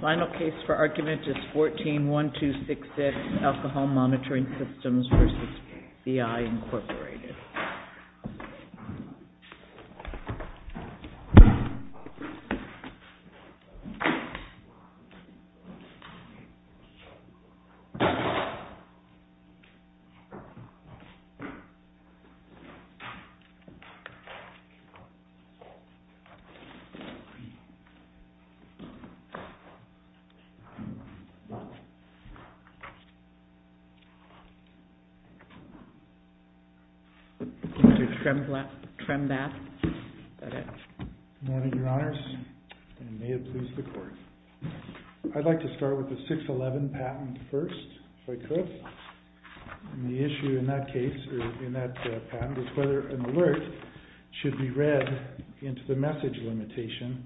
Final case for argument is 14-1266 Alcohol Monitoring Systems v. BI Incorporated Mr. Trembath. Good morning, your honors, and may it please the court. I'd like to start with the 611 patent first, if I could, and the issue in that patent is whether an alert should be read into the message limitation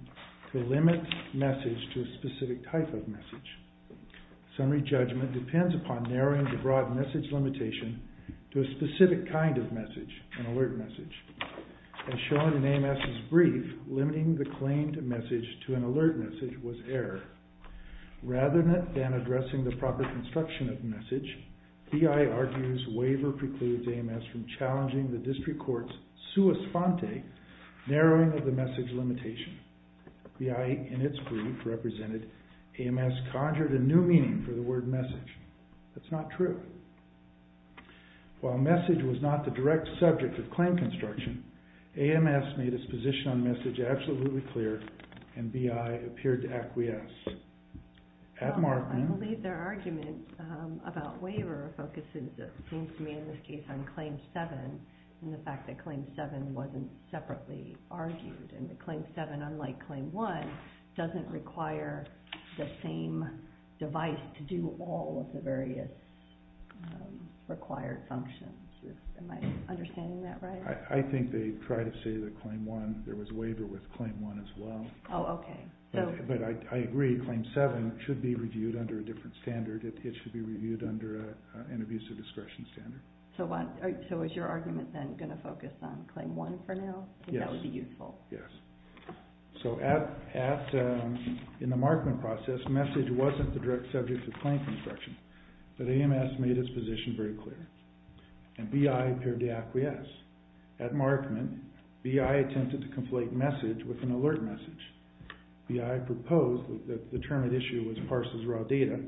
to limit message to a specific type of message. Summary judgment depends upon narrowing the broad message limitation to a specific kind of message, an alert message. As shown in AMS's brief, limiting the claimed message to an alert message was error. Rather than addressing the proper construction of message, BI argues waiver precludes AMS from challenging the district court's sua sponte narrowing of the message limitation. BI, in its brief represented, AMS conjured a new meaning for the word message. That's not true. While message was not the direct subject of claim construction, AMS made its position on message absolutely clear, and BI appeared to acquiesce. I believe their argument about waiver focuses, it seems to me in this case, on claim 7, and the fact that claim 7 wasn't separately argued, and that claim 7, unlike claim 1, doesn't require the same device to do all of the various required functions. Am I correct in saying that there was a waiver with claim 1 as well? Oh, okay. But I agree, claim 7 should be reviewed under a different standard. It should be reviewed under an abusive discretion standard. So is your argument then going to focus on claim 1 for now? Yes. That would be useful. Yes. So in the markment process, message wasn't the direct subject of the argument. BI attempted to conflate message with an alert message. BI proposed that the term at issue was parses raw data,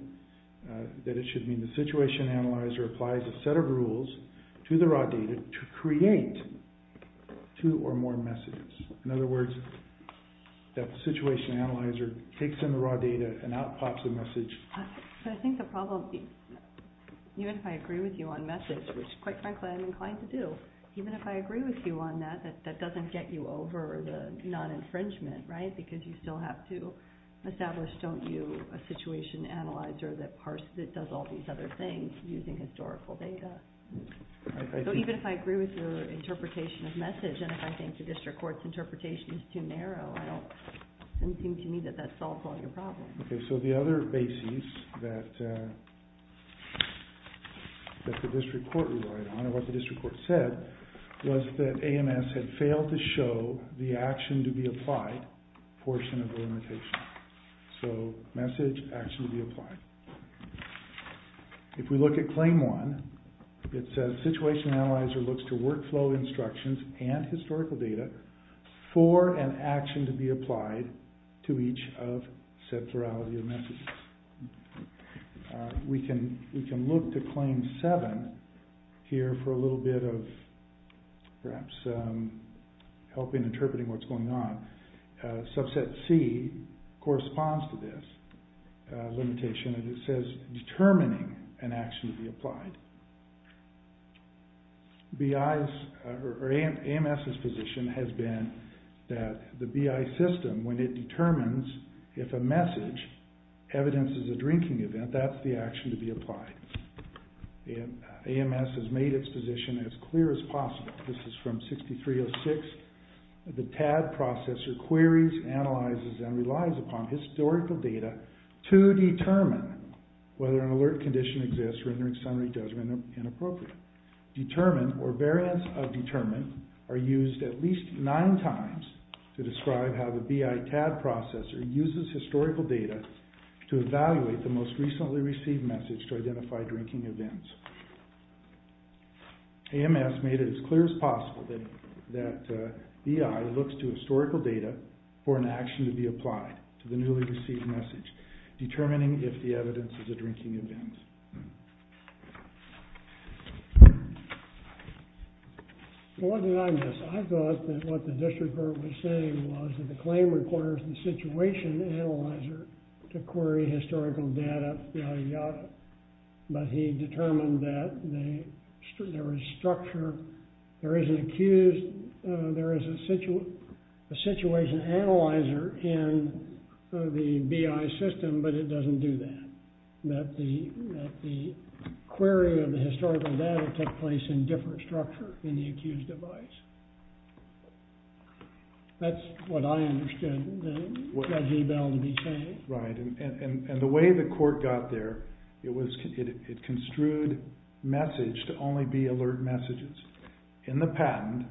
that it should mean the situation analyzer applies a set of rules to the raw data to create two or more messages. In other words, that the situation analyzer takes in the raw data and out pops a message. But I think the problem, even if I agree with you on message, which quite frankly I'm inclined to do, even if I agree with you on that, that doesn't get you over the non-infringement, right? Because you still have to establish, don't you, a situation analyzer that does all these other things using historical data. So even if I agree with your interpretation of message, and if I think the district court's interpretation is too narrow, it doesn't seem to me that that solves all your problems. Okay, so the other basis that the district court relied on, or what the district court said, was that AMS had failed to show the action to be applied portion of the limitation. So message, action to be applied. If we look at claim one, it says situation analyzer looks to workflow instructions and historical data for an action to be applied to each of said plurality of messages. We can look to claim seven here for a little bit of perhaps help in interpreting what's going on. Subset C corresponds to this limitation, and it says determining an action to be applied. BIs, or AMS's position has been that the BI system, when it determines if a message evidences a drinking event, that's the action to be applied. AMS has made its position as clear as possible. This is from 6306. The TAD processor queries, analyzes, and relies upon historical data to determine whether an alert condition exists, rendering summary judgment inappropriate. Determine, or variance of determine, are used at least nine times to describe how the BI TAD processor uses historical data to evaluate the most recently received message to identify drinking events. AMS made it as clear as possible that BI looks to historical data for an action to be applied to the newly received message, determining if the evidence is a drinking event. Well, what did I miss? I thought that what the district court was saying was that the claim requires the situation analyzer to query historical data by the author, but he determined that there is structure, there is an accused, there is a situation analyzer in the BI system, but it doesn't do that. That the query of the historical data took place in different structure in the accused device. That's what I understand Judge Ebel to be saying. Right, and the way the court got there, it was, it construed message to only be alert messages. In the patent,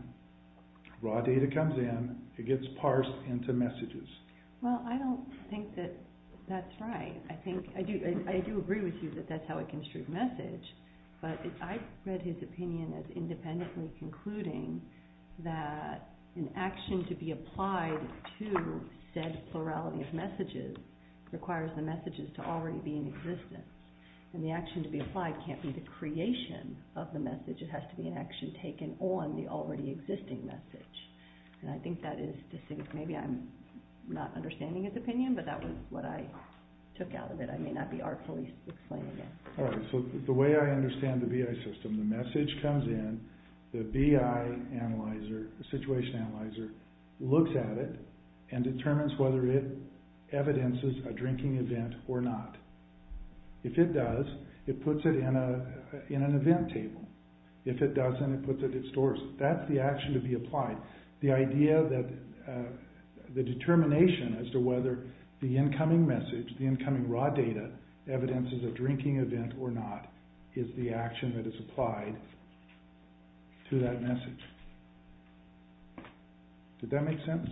raw data comes in, it gets parsed into messages. Well, I don't think that that's right. I think, I do agree with you that that's how it construed message, but I read his opinion as independently concluding that an action to be applied to said plurality of messages requires the messages to already be in existence. And the action to be applied can't be the creation of the message, it has to be an action taken on the already existing message. And I think that is, maybe I'm not understanding his opinion, but that was what I was trying to get. Alright, so the way I understand the BI system, the message comes in, the BI analyzer, the situation analyzer looks at it and determines whether it evidences a drinking event or not. If it does, it puts it in an event table. If it doesn't, it puts it at stores. That's the action to be applied. The idea that the determination as to whether the incoming message, the incoming raw data, evidences a drinking event or not, is the action that is applied to that message. Did that make sense?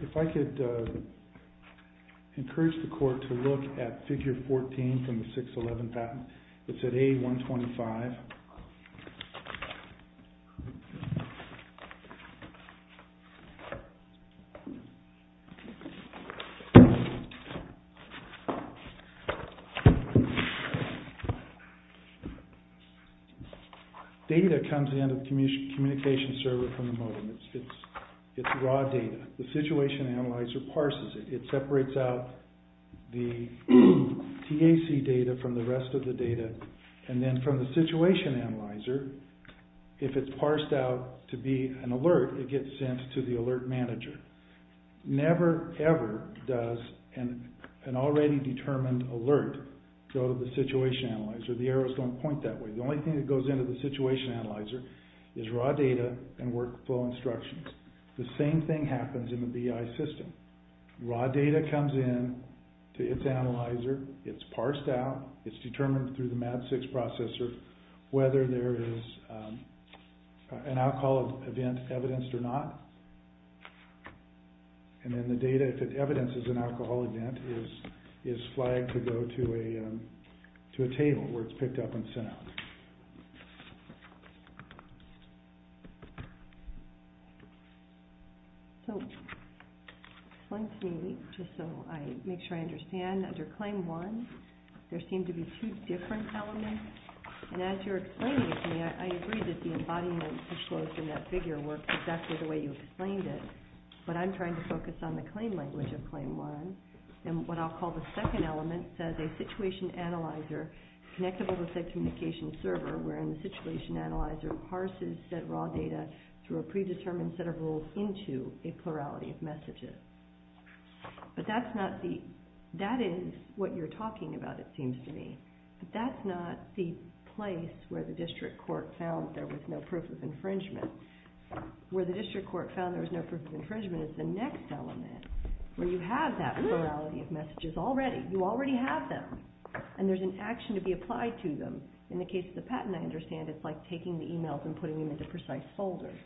If I could encourage the court to look at figure 14 from the 611 patent, it's at A125. Data comes in the communication server from the modem. It's raw data. The situation analyzer parses it. It separates out the TAC data from the rest of the data. And then from the situation analyzer, if it's parsed out to be an alert, it gets sent to the alert manager. Never, ever does an already determined alert go to the situation analyzer. The arrows don't point that way. The only thing that goes into the situation analyzer is raw data and workflow instructions. The same thing happens in the BI system. Raw data comes in to its analyzer. It's parsed out. It's determined through the MAD-6 processor whether there is an alcohol event evidenced or not. And then the data, if it evidences an alcohol event, is flagged to go to a table where it's picked up and sent out. So, explain to me, just so I make sure I understand, under Claim 1, there seem to be two different elements. And as you're explaining to me, I agree that the embodiment disclosed in that figure works exactly the way you explained it, but I'm trying to focus on the claim language of Claim 1. And what I'll call the second element says a situation analyzer connected with a said communication server wherein the situation analyzer parses said raw data through a predetermined set of rules into a plurality of messages. But that is what you're talking about, it seems to me. But that's not the place where the district court found there was no proof of infringement. Where the district court found there was no proof of infringement is the next element, where you have that plurality of messages already. You already have them. And there's an action to be applied to them. In the case of the patent, I understand it's like taking the emails and putting them into precise folders.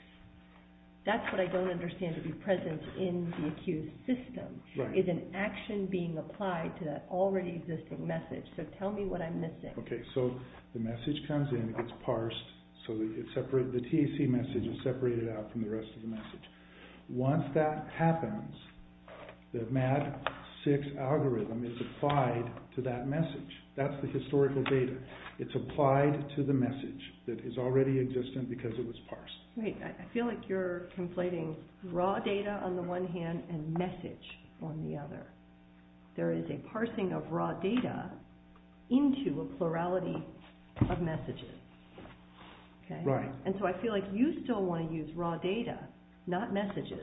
That's what I don't understand to be present in the accused system, is an action being applied to that already existing message. So tell me what I'm missing. Okay, so the message comes in, it's parsed, so the TAC message is separated out from the rest of the message. Once that happens, the MAD6 algorithm is applied to that message. That's the historical data. It's applied to the message that is already existent because it was parsed. Wait, I feel like you're conflating raw data on the one hand and message on the other. There is a parsing of raw data into a plurality of messages. Right. And so I feel like you still want to use raw data, not messages,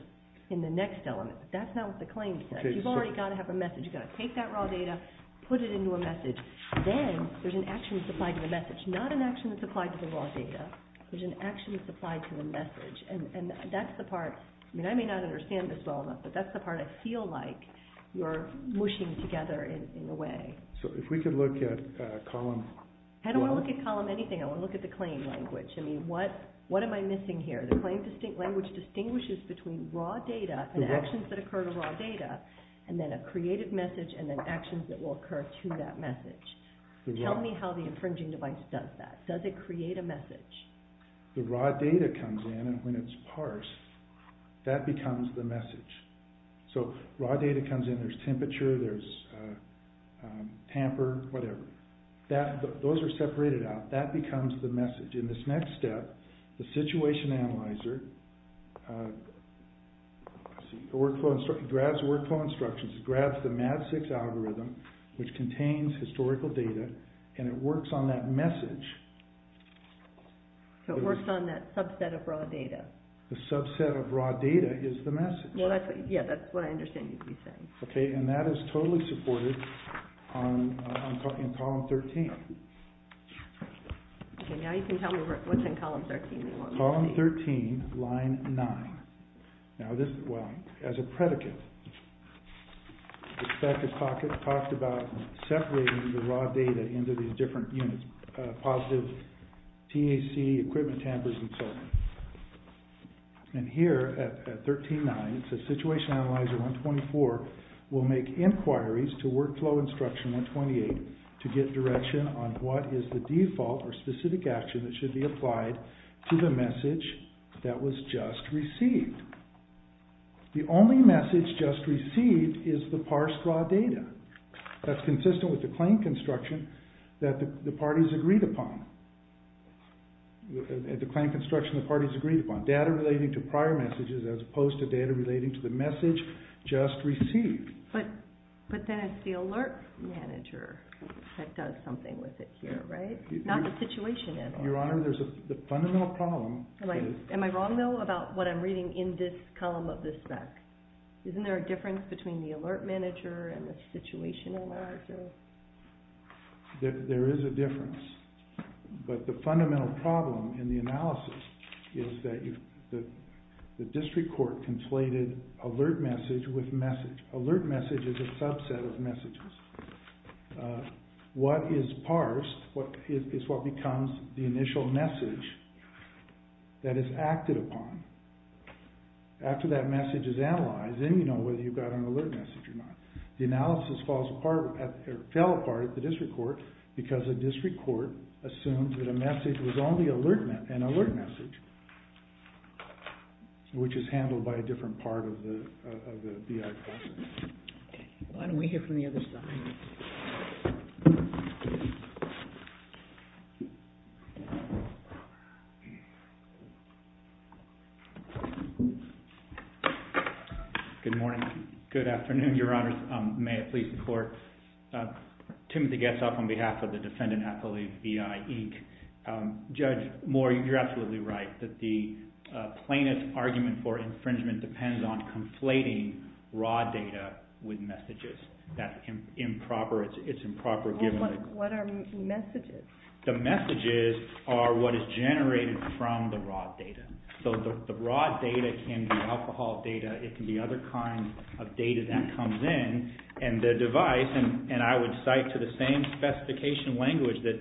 in the next element. That's not what the claim says. You've already got to have a message. You've got to take that raw data, put it into a message. Then there's an action that's applied to the message, not an action that's applied to the raw data. There's an action that's applied to the message. And that's the part, I mean I may not understand this well enough, but that's the part I feel like you're mushing together in a way. So if we could look at column... I don't want to look at column anything. I want to look at the claim language. I mean, what am I missing here? The claim language distinguishes between raw data and actions that occur to raw data, and then a created message and then actions that will occur to that message. Tell me how the infringing device does that. Does it create a message? The raw data comes in and when it's parsed, that becomes the message. So raw data comes in, there's temperature, there's tamper, whatever. Those are separated out. That becomes the message. In this next step, the Situation Analyzer grabs workflow instructions. It grabs the MAD6 algorithm, which contains historical data, and it works on that message. So it works on that subset of raw data. The subset of raw data is the message. Yeah, that's what I understand you're saying. Okay, and that is totally supported in column 13. Okay, now you can tell me what's in column 13. Column 13, line 9. Now this, well, as a predicate, this packet talked about separating the raw data into these different units, positive TAC, equipment tampers, and so on. And here at 13.9, it says, Situation Analyzer 124 will make inquiries to Workflow Instruction 128 to get direction on what is the default or specific action that should be applied to the message that was just received. The only message just received is the parsed raw data. That's consistent with the claim construction that the parties agreed upon. The claim construction the parties agreed upon. Data relating to prior messages as opposed to data relating to the message just received. But then it's the Alert Manager that does something with it here, right? Not the Situation Analyzer. Your Honor, there's a fundamental problem. Am I wrong, though, about what I'm reading in this column of this spec? Isn't there a difference between the Alert Manager and the Situation Analyzer? There is a difference. But the fundamental problem in the analysis is that the district court conflated alert message with message. Alert message is a subset of messages. What is parsed is what becomes the initial message that is acted upon. After that message is analyzed, then you know whether you've got an alert message or not. The analysis fell apart at the district court because the district court assumed that a message was only an alert message, which is handled by a different part of the IP. Why don't we hear from the other side? Good morning. Good afternoon, Your Honors. May it please the Court. Timothy Getzoff on behalf of the defendant affiliate EIEC. Judge Moore, you're absolutely right that the plaintiff's argument for infringement depends on conflating raw data with messages. That's improper. It's improper given that... What are messages? The messages are what is generated from the raw data. So the raw data can be alcohol data. It can be other kinds of data that comes in. And the device, and I would cite to the same specification language, that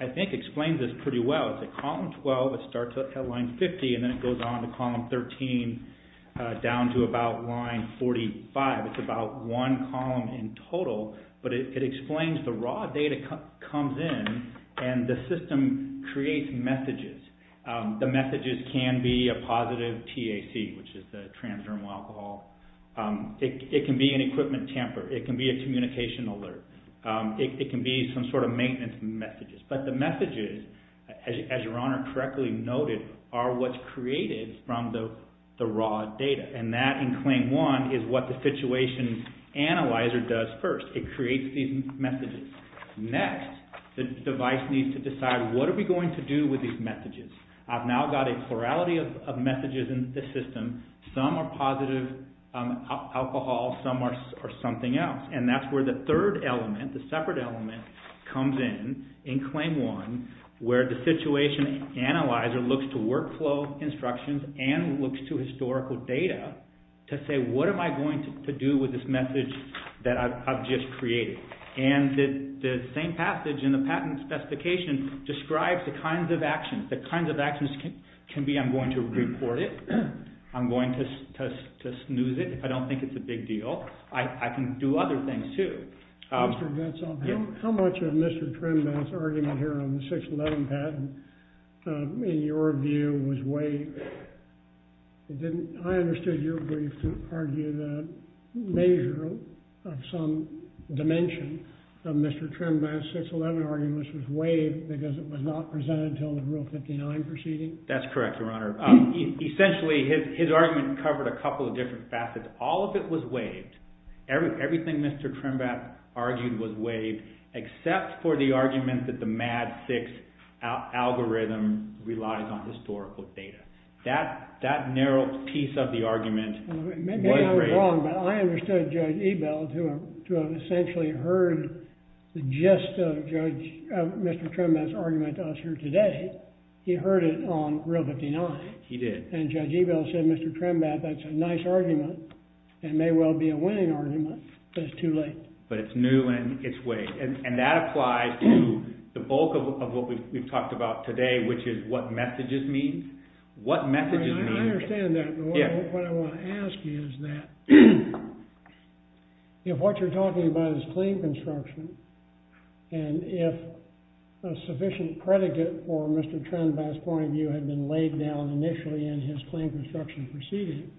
I think explains this pretty well. It's at column 12, it starts at line 50, and then it goes on to column 13, down to about line 45. It's about one column in total, but it explains the raw data comes in, and the system creates messages. The messages can be a positive TAC, which is the transdermal alcohol. It can be an equipment tamper. It can be a communication alert. It can be some sort of maintenance messages. But the messages, as Your Honor correctly noted, are what's created from the raw data. And that in Claim 1 is what the situation analyzer does first. It creates these messages. Next, the device needs to decide what are we going to do with these messages. I've now got a plurality of messages in the system. Some are positive alcohol. Some are something else. And that's where the third element, the separate element, comes in in Claim 1, where the situation analyzer looks to workflow instructions and looks to historical data to say what am I going to do with this message that I've just created. And the same passage in the patent specification describes the kinds of actions. The kinds of actions can be I'm going to report it. I'm going to snooze it if I don't think it's a big deal. I can do other things too. How much of Mr. Trenbath's argument here on the 611 patent in your view was waived? I understood your brief to argue that a measure of some dimension of Mr. Trenbath's 611 argument was waived because it was not presented until the Rule 59 proceeding. That's correct, Your Honor. Essentially, his argument covered a couple of different facets. All of it was waived. Everything Mr. Trenbath argued was waived except for the argument that the MADD 6 algorithm relies on historical data. That narrow piece of the argument was waived. Maybe I was wrong, but I understood Judge Ebel, who essentially heard the gist of Mr. Trenbath's argument to us here today. He heard it on Rule 59. He did. Judge Ebel said, Mr. Trenbath, that's a nice argument. It may well be a winning argument, but it's too late. But it's new and it's waived. That applies to the bulk of what we've talked about today, which is what messages mean. I understand that. What I want to ask you is that if what you're talking about is clean construction and if a sufficient predicate for Mr. Trenbath's point of view had been laid down initially in his clean construction proceeding,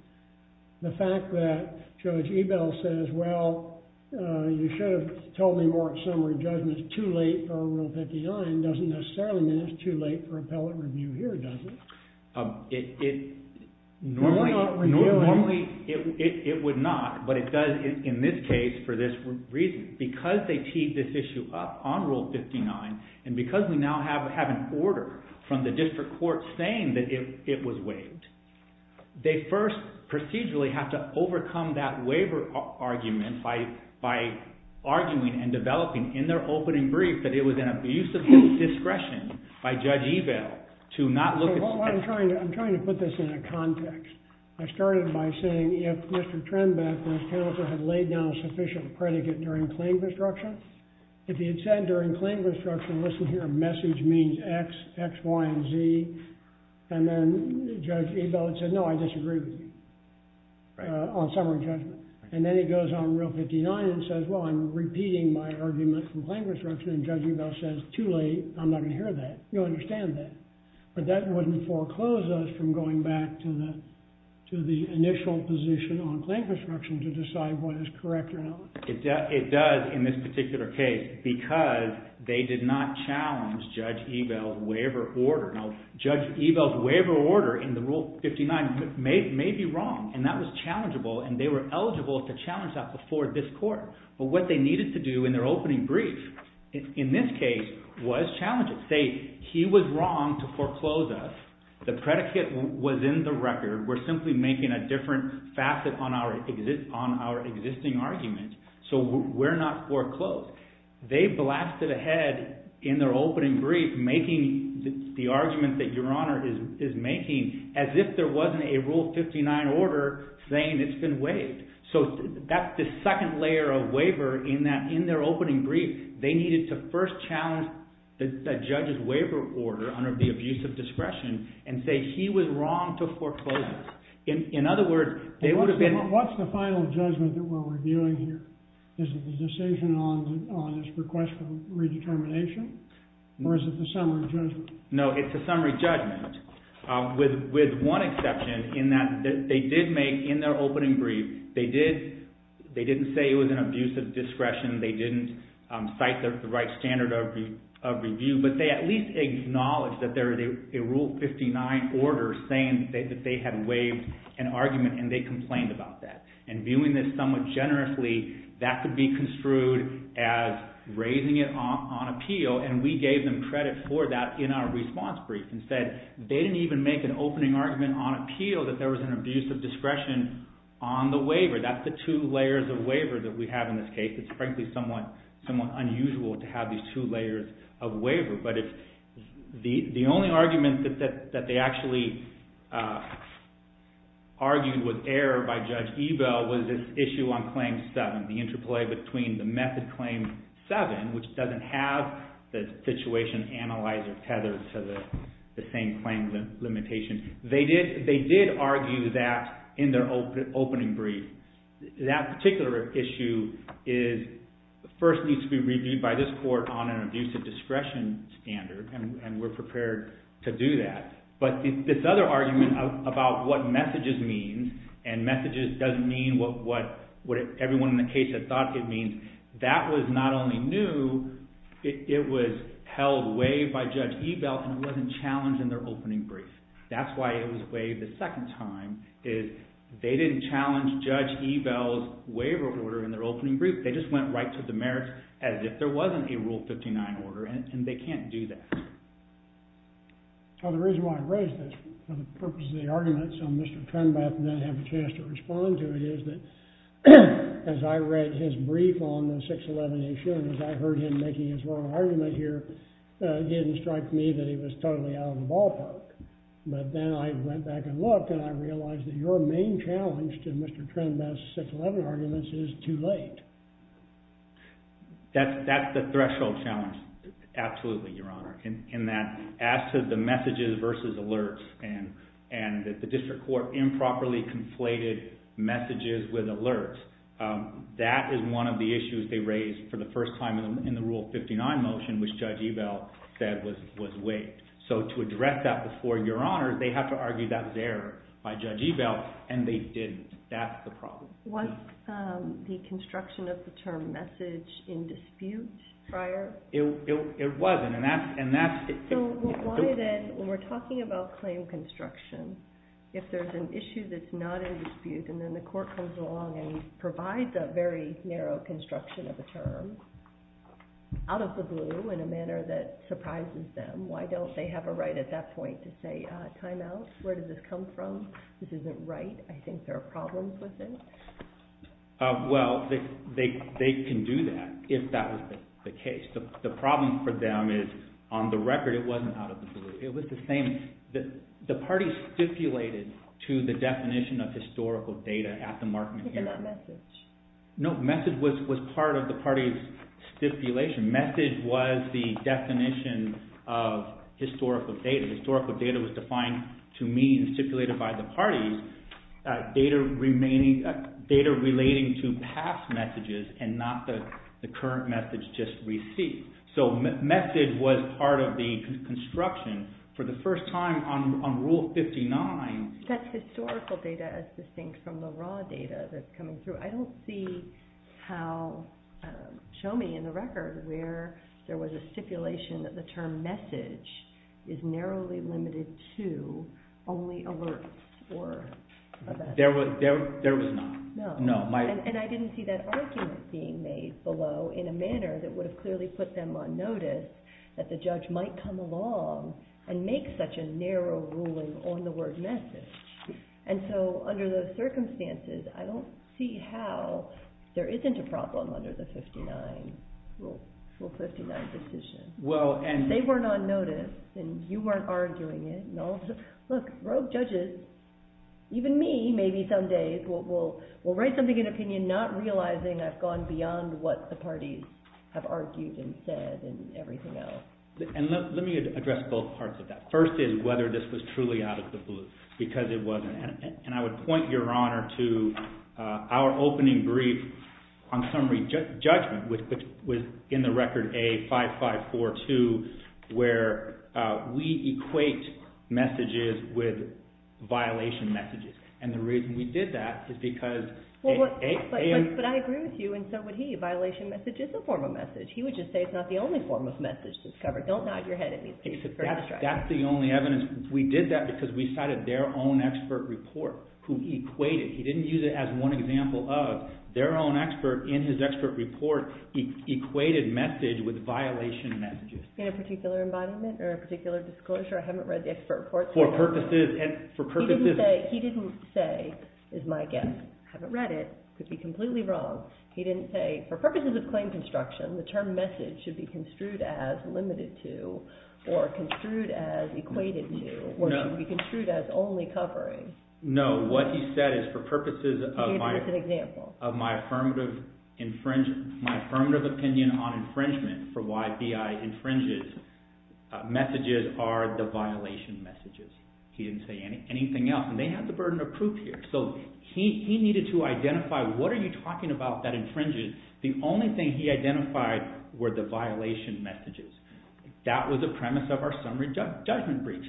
the fact that Judge Ebel says, well, you should have told me more summary judgments too late on Rule 59 doesn't necessarily mean it's too late for appellate review here, does it? Normally it would not, but it does in this case for this reason. Because they teed this issue up on Rule 59 and because we now have an order from the district court saying that it was waived, they first procedurally have to overcome that waiver argument by arguing and developing in their opening brief that it was an abuse of discretion by Judge Ebel to not look at the statute. I'm trying to put this in a context. I started by saying if Mr. Trenbath and his counsel had laid down a sufficient predicate during clean construction, if he had said during clean construction, listen here, message means x, x, y, and z. And then Judge Ebel would say, no, I disagree with you on summary judgment. And then he goes on Rule 59 and says, well, I'm repeating my argument from clean construction and Judge Ebel says, too late. I'm not going to hear that. You understand that. But that wouldn't foreclose us from going back to the initial position on clean construction to decide what is correct or not. It does in this particular case because they did not challenge Judge Ebel's waiver order. Now, Judge Ebel's waiver order in the Rule 59 may be wrong. And that was challengeable. And they were eligible to challenge that before this court. But what they needed to do in their opening brief in this case was challenge it. Say he was wrong to foreclose us. The predicate was in the record. We're simply making a different facet on our existing argument. So we're not foreclosed. They blasted ahead in their opening brief making the argument that Your Honor is making as if there wasn't a Rule 59 order saying it's been waived. So that's the second layer of waiver in that in their opening brief, they needed to first challenge the judge's waiver order under the abuse of discretion and say he was wrong to foreclose us. In other words, they would have been. What's the final judgment that we're reviewing here? Is it the decision on his request for redetermination? Or is it the summary judgment? No, it's the summary judgment with one exception in that they did make in their opening brief, they didn't say it was an abuse of discretion. They didn't cite the right standard of review. But they at least acknowledged that there was a Rule 59 order saying that they had waived an argument. And they complained about that. And viewing this somewhat generously, that could be construed as raising it on appeal. And we gave them credit for that in our response brief and said they didn't even make an opening argument on appeal that there was an abuse of discretion on the waiver. That's the two layers of waiver that we have in this case. It's frankly somewhat unusual to have these two layers of waiver. But the only argument that they actually argued with error by Judge Ebel was this issue on Claim 7, the interplay between the method Claim 7, which doesn't have the situation analyzer tethered to the same claim limitation. They did argue that in their opening brief. That particular issue first needs to be reviewed by this court on an abuse of discretion standard. And we're prepared to do that. But this other argument about what messages means, and messages doesn't mean what everyone in the case had thought it means, that was not only new. It was held waived by Judge Ebel. And it wasn't challenged in their opening brief. That's why it was waived a second time. They didn't challenge Judge Ebel's waiver order in their opening brief. They just went right to the merits, as if there wasn't a Rule 59 order. And they can't do that. The reason why I raised this, for the purpose of the argument, so Mr. Trenbeth may have a chance to respond to it, is that as I read his brief on the 611 issue, and as I heard him making his argument here, it didn't strike me that he was totally out of the ballpark. But then I went back and looked, and I realized that your main challenge to Mr. Trenbeth's 611 argument is too late. That's the threshold challenge. Absolutely, Your Honor. In that, as to the messages versus alerts, and that the district court improperly conflated messages with alerts, that is one of the issues they raised for the first time in the Rule 59 motion, which Judge Ebel said was waived. So to address that before Your Honor, they have to argue that was error by Judge Ebel, and they didn't. That's the problem. Was the construction of the term message in dispute prior? It wasn't. And that's it. So why then, when we're talking about claim construction, if there's an issue that's not in dispute, and then the court comes along and provides a very narrow construction of a term, out of the blue, in a manner that surprises them, why don't they have a right at that point to say, time out? Where did this come from? This isn't right. I think there are problems with it. Well, they can do that, if that was the case. The problem for them is, on the record, it wasn't out of the blue. It was the same. The parties stipulated to the definition of historical data at the markment hearing. But not message. No, message was part of the party's stipulation. Message was the definition of historical data. Historical data was defined to mean, stipulated by the parties, data relating to past messages, and not the current message just received. So message was part of the construction. For the first time, on Rule 59. That's historical data, as distinct from the raw data that's coming through. I don't see how, show me in the record, where there was a stipulation that the term message is narrowly limited to only alerts. There was not. And I didn't see that argument being made below in a manner that would have clearly put them on notice that the judge might come along and make such a narrow ruling on the word message. And so under those circumstances, I don't see how there isn't a problem under the Rule 59 decision. They weren't on notice. And you weren't arguing it. And all of a sudden, look, rogue judges, even me, maybe some days, will write something in opinion not realizing I've gone beyond what the parties have argued and said and everything else. And let me address both parts of that. First is whether this was truly out of the blue, because it wasn't. And I would point your honor to our opening brief on summary judgment, which was in the record A5542, where we equate messages with violation messages. And the reason we did that is because A and B. But I agree with you. And so would he. A violation message is a form of message. He would just say it's not the only form of message that's covered. Don't nod your head at me. That's the only evidence. We did that because we cited their own expert report, who equated. He didn't use it as one example of their own expert in his expert report equated message with violation messages. In a particular embodiment or a particular disclosure? I haven't read the expert report. He didn't say, is my guess. I haven't read it. Could be completely wrong. He didn't say, for purposes of claim construction, the term message should be construed as limited to or construed as equated to or should be construed as only covering. No. So what he said is, for purposes of my affirmative opinion on infringement for why BI infringes, messages are the violation messages. He didn't say anything else. And they have the burden of proof here. So he needed to identify, what are you talking about that infringes? The only thing he identified were the violation messages. That was the premise of our summary judgment breach.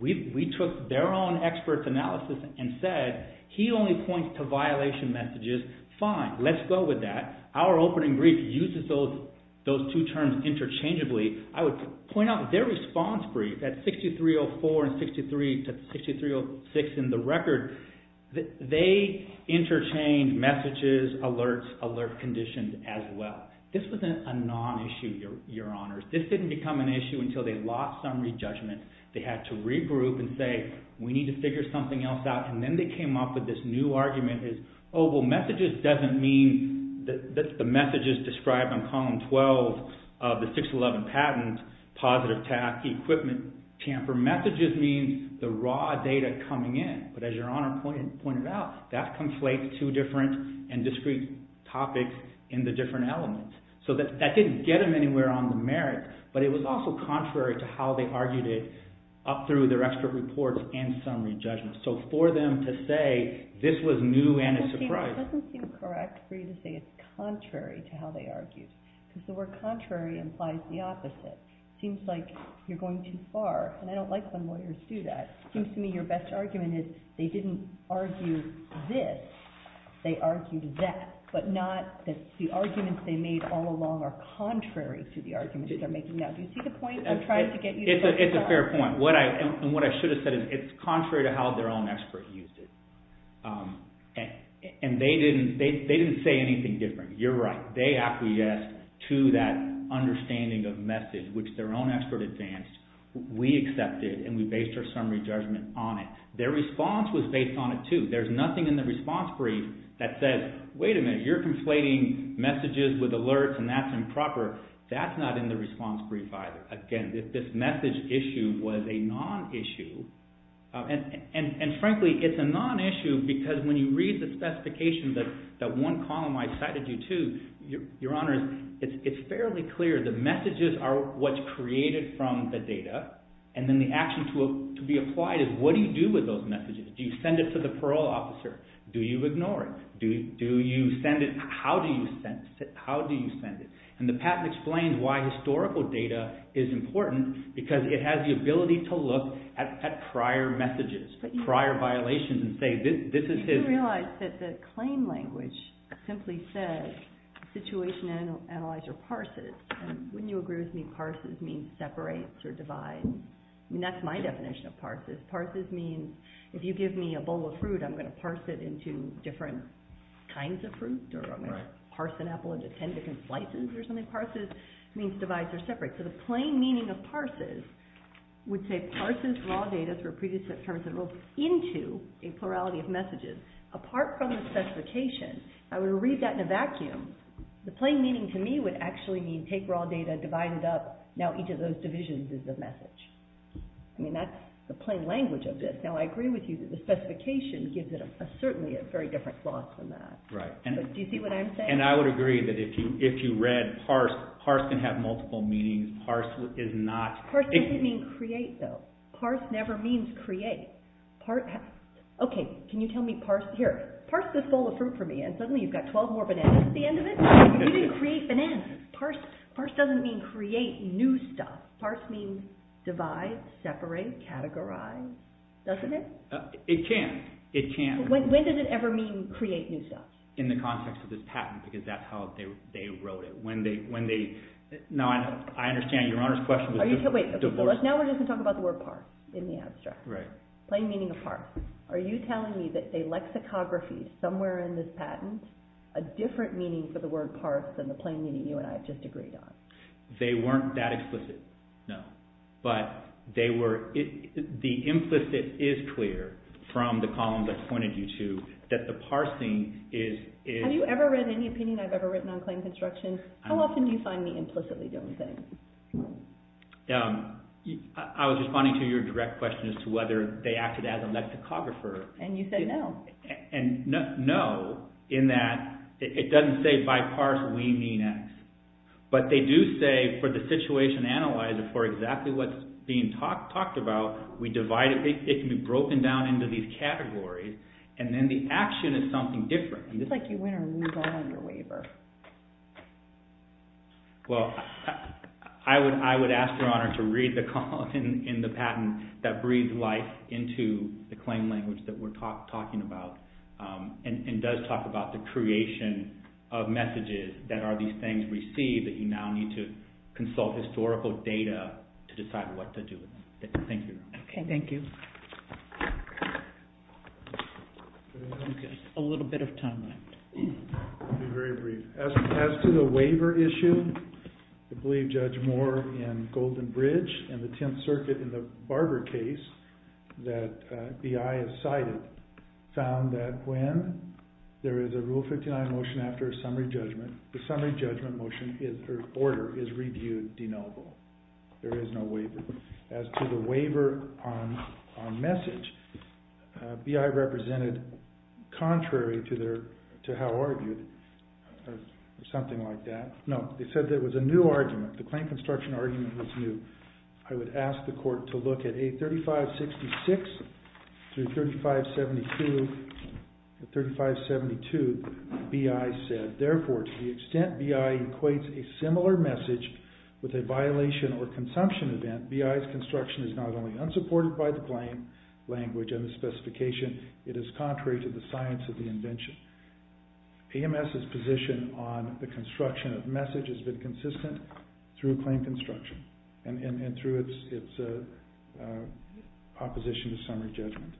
We took their own expert analysis and said, he only points to violation messages. Fine. Let's go with that. Our opening brief uses those two terms interchangeably. I would point out their response brief, that 6304 and 6306 in the record, they interchange messages, alerts, alert conditions as well. This wasn't a non-issue, your honors. This didn't become an issue until they lost summary judgment. They had to regroup and say, we need to figure something else out. And then they came up with this new argument is, oh, well, messages doesn't mean that the messages described on column 12 of the 611 patent, positive task equipment tamper messages means the raw data coming in. But as your honor pointed out, that conflates two different and discrete topics in the different elements. So that didn't get them anywhere on the merit. But it was also contrary to how they argued it up through their expert reports and summary judgments. So for them to say, this was new and a surprise. It doesn't seem correct for you to say it's contrary to how they argued. Because the word contrary implies the opposite. It seems like you're going too far. And I don't like when lawyers do that. It seems to me your best argument is, they didn't argue this, they argued that. But not that the arguments they made all along are contrary to the arguments they're making. Now, do you see the point I'm trying to get you? It's a fair point. And what I should have said is, it's contrary to how their own expert used it. And they didn't say anything different. You're right. They acquiesced to that understanding of message, which their own expert advanced. We accepted. And we based our summary judgment on it. Their response was based on it, too. There's nothing in the response brief that says, wait a minute. You're conflating messages with alerts. And that's improper. That's not in the response brief either. Again, this message issue was a non-issue. And frankly, it's a non-issue because when you read the specification that one column I cited you to, your honor, it's fairly clear. The messages are what's created from the data. And then the action to be applied is, what do you do with those messages? Do you send it to the parole officer? Do you ignore it? How do you send it? And the patent explains why historical data is important because it has the ability to look at prior messages, prior violations, and say, this is his. But you realize that the claim language simply says, situation analyzer parses. And wouldn't you agree with me, parses means separates or divides? And that's my definition of parses. Parses means, if you give me a bowl of fruit, I'm going to parse it into different kinds of fruit, or I'm going to parse an apple into 10 different slices or something. Parses means divides or separates. So the plain meaning of parses would say, parses raw data through a previous set of terms and rules into a plurality of messages. Apart from the specification, I would read that in a vacuum. The plain meaning to me would actually mean, take raw data, divide it up. Now each of those divisions is a message. That's the plain language of this. Now I agree with you that the specification gives it certainly a very different gloss than that. Right. Do you see what I'm saying? And I would agree that if you read parse, parse can have multiple meanings. Parse is not. Parse doesn't mean create, though. Parse never means create. OK, can you tell me parse? Here, parse this bowl of fruit for me. And suddenly you've got 12 more bananas at the end of it. You didn't create bananas. Parse doesn't mean create new stuff. Parse means divide, separate, categorize. Doesn't it? It can. It can. When does it ever mean create new stuff? In the context of this patent, because that's how they wrote it. When they, when they, now I understand Your Honor's question was divorce. Are you, wait, OK, so now we're just going to talk about the word parse in the abstract. Right. Plain meaning of parse. Are you telling me that a lexicography somewhere in this patent, a different meaning for the word parse than the plain meaning you and I have just agreed on? They weren't that explicit, no. But they were, the implicit is clear from the columns I pointed you to that the parsing is, is Have you ever read any opinion I've ever written on claim construction? How often do you find me implicitly doing things? I was responding to your direct question as to whether they acted as a lexicographer. And you said no. And no, in that, it doesn't say by parse we mean X. But they do say for the situation analyzer for exactly what's being talked about, we divide it, it can be broken down into these categories and then the action is something different. It's like you win or lose all your waiver. Well, I would ask Your Honor to read the column in the patent that breathes life into the claim language that we're talking about and does talk about the creation of messages that are these things received that you now need to consult historical data to decide what to do with them. Thank you, Your Honor. Okay, thank you. Just a little bit of time left. Very brief. As to the waiver issue, I believe Judge Moore in Golden Bridge and the Tenth Circuit in the Barber case that BI has cited found that when there is a Rule 59 motion after a summary judgment, the summary judgment order is reviewed denotable. There is no waiver. As to the waiver on message, BI represented contrary to how argued or something like that. No, they said there was a new argument. The claim construction argument was new. I would ask the court to look at A3566 through 3572. At 3572, BI said, Therefore, to the extent BI equates a similar message with a violation or consumption event, BI's construction is not only unsupported by the claim language and the specification, it is contrary to the science of the invention. AMS's position on the construction of message has been consistent through claim construction and through its opposition to summary judgment.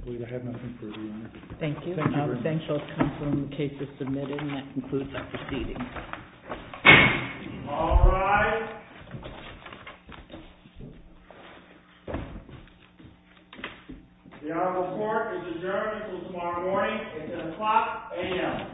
I believe I have nothing further. Thank you. Thank you. I'll confirm the case is submitted and that concludes our proceedings. All rise. The honorable court is adjourned until tomorrow morning at 10 o'clock a.m. Thank you.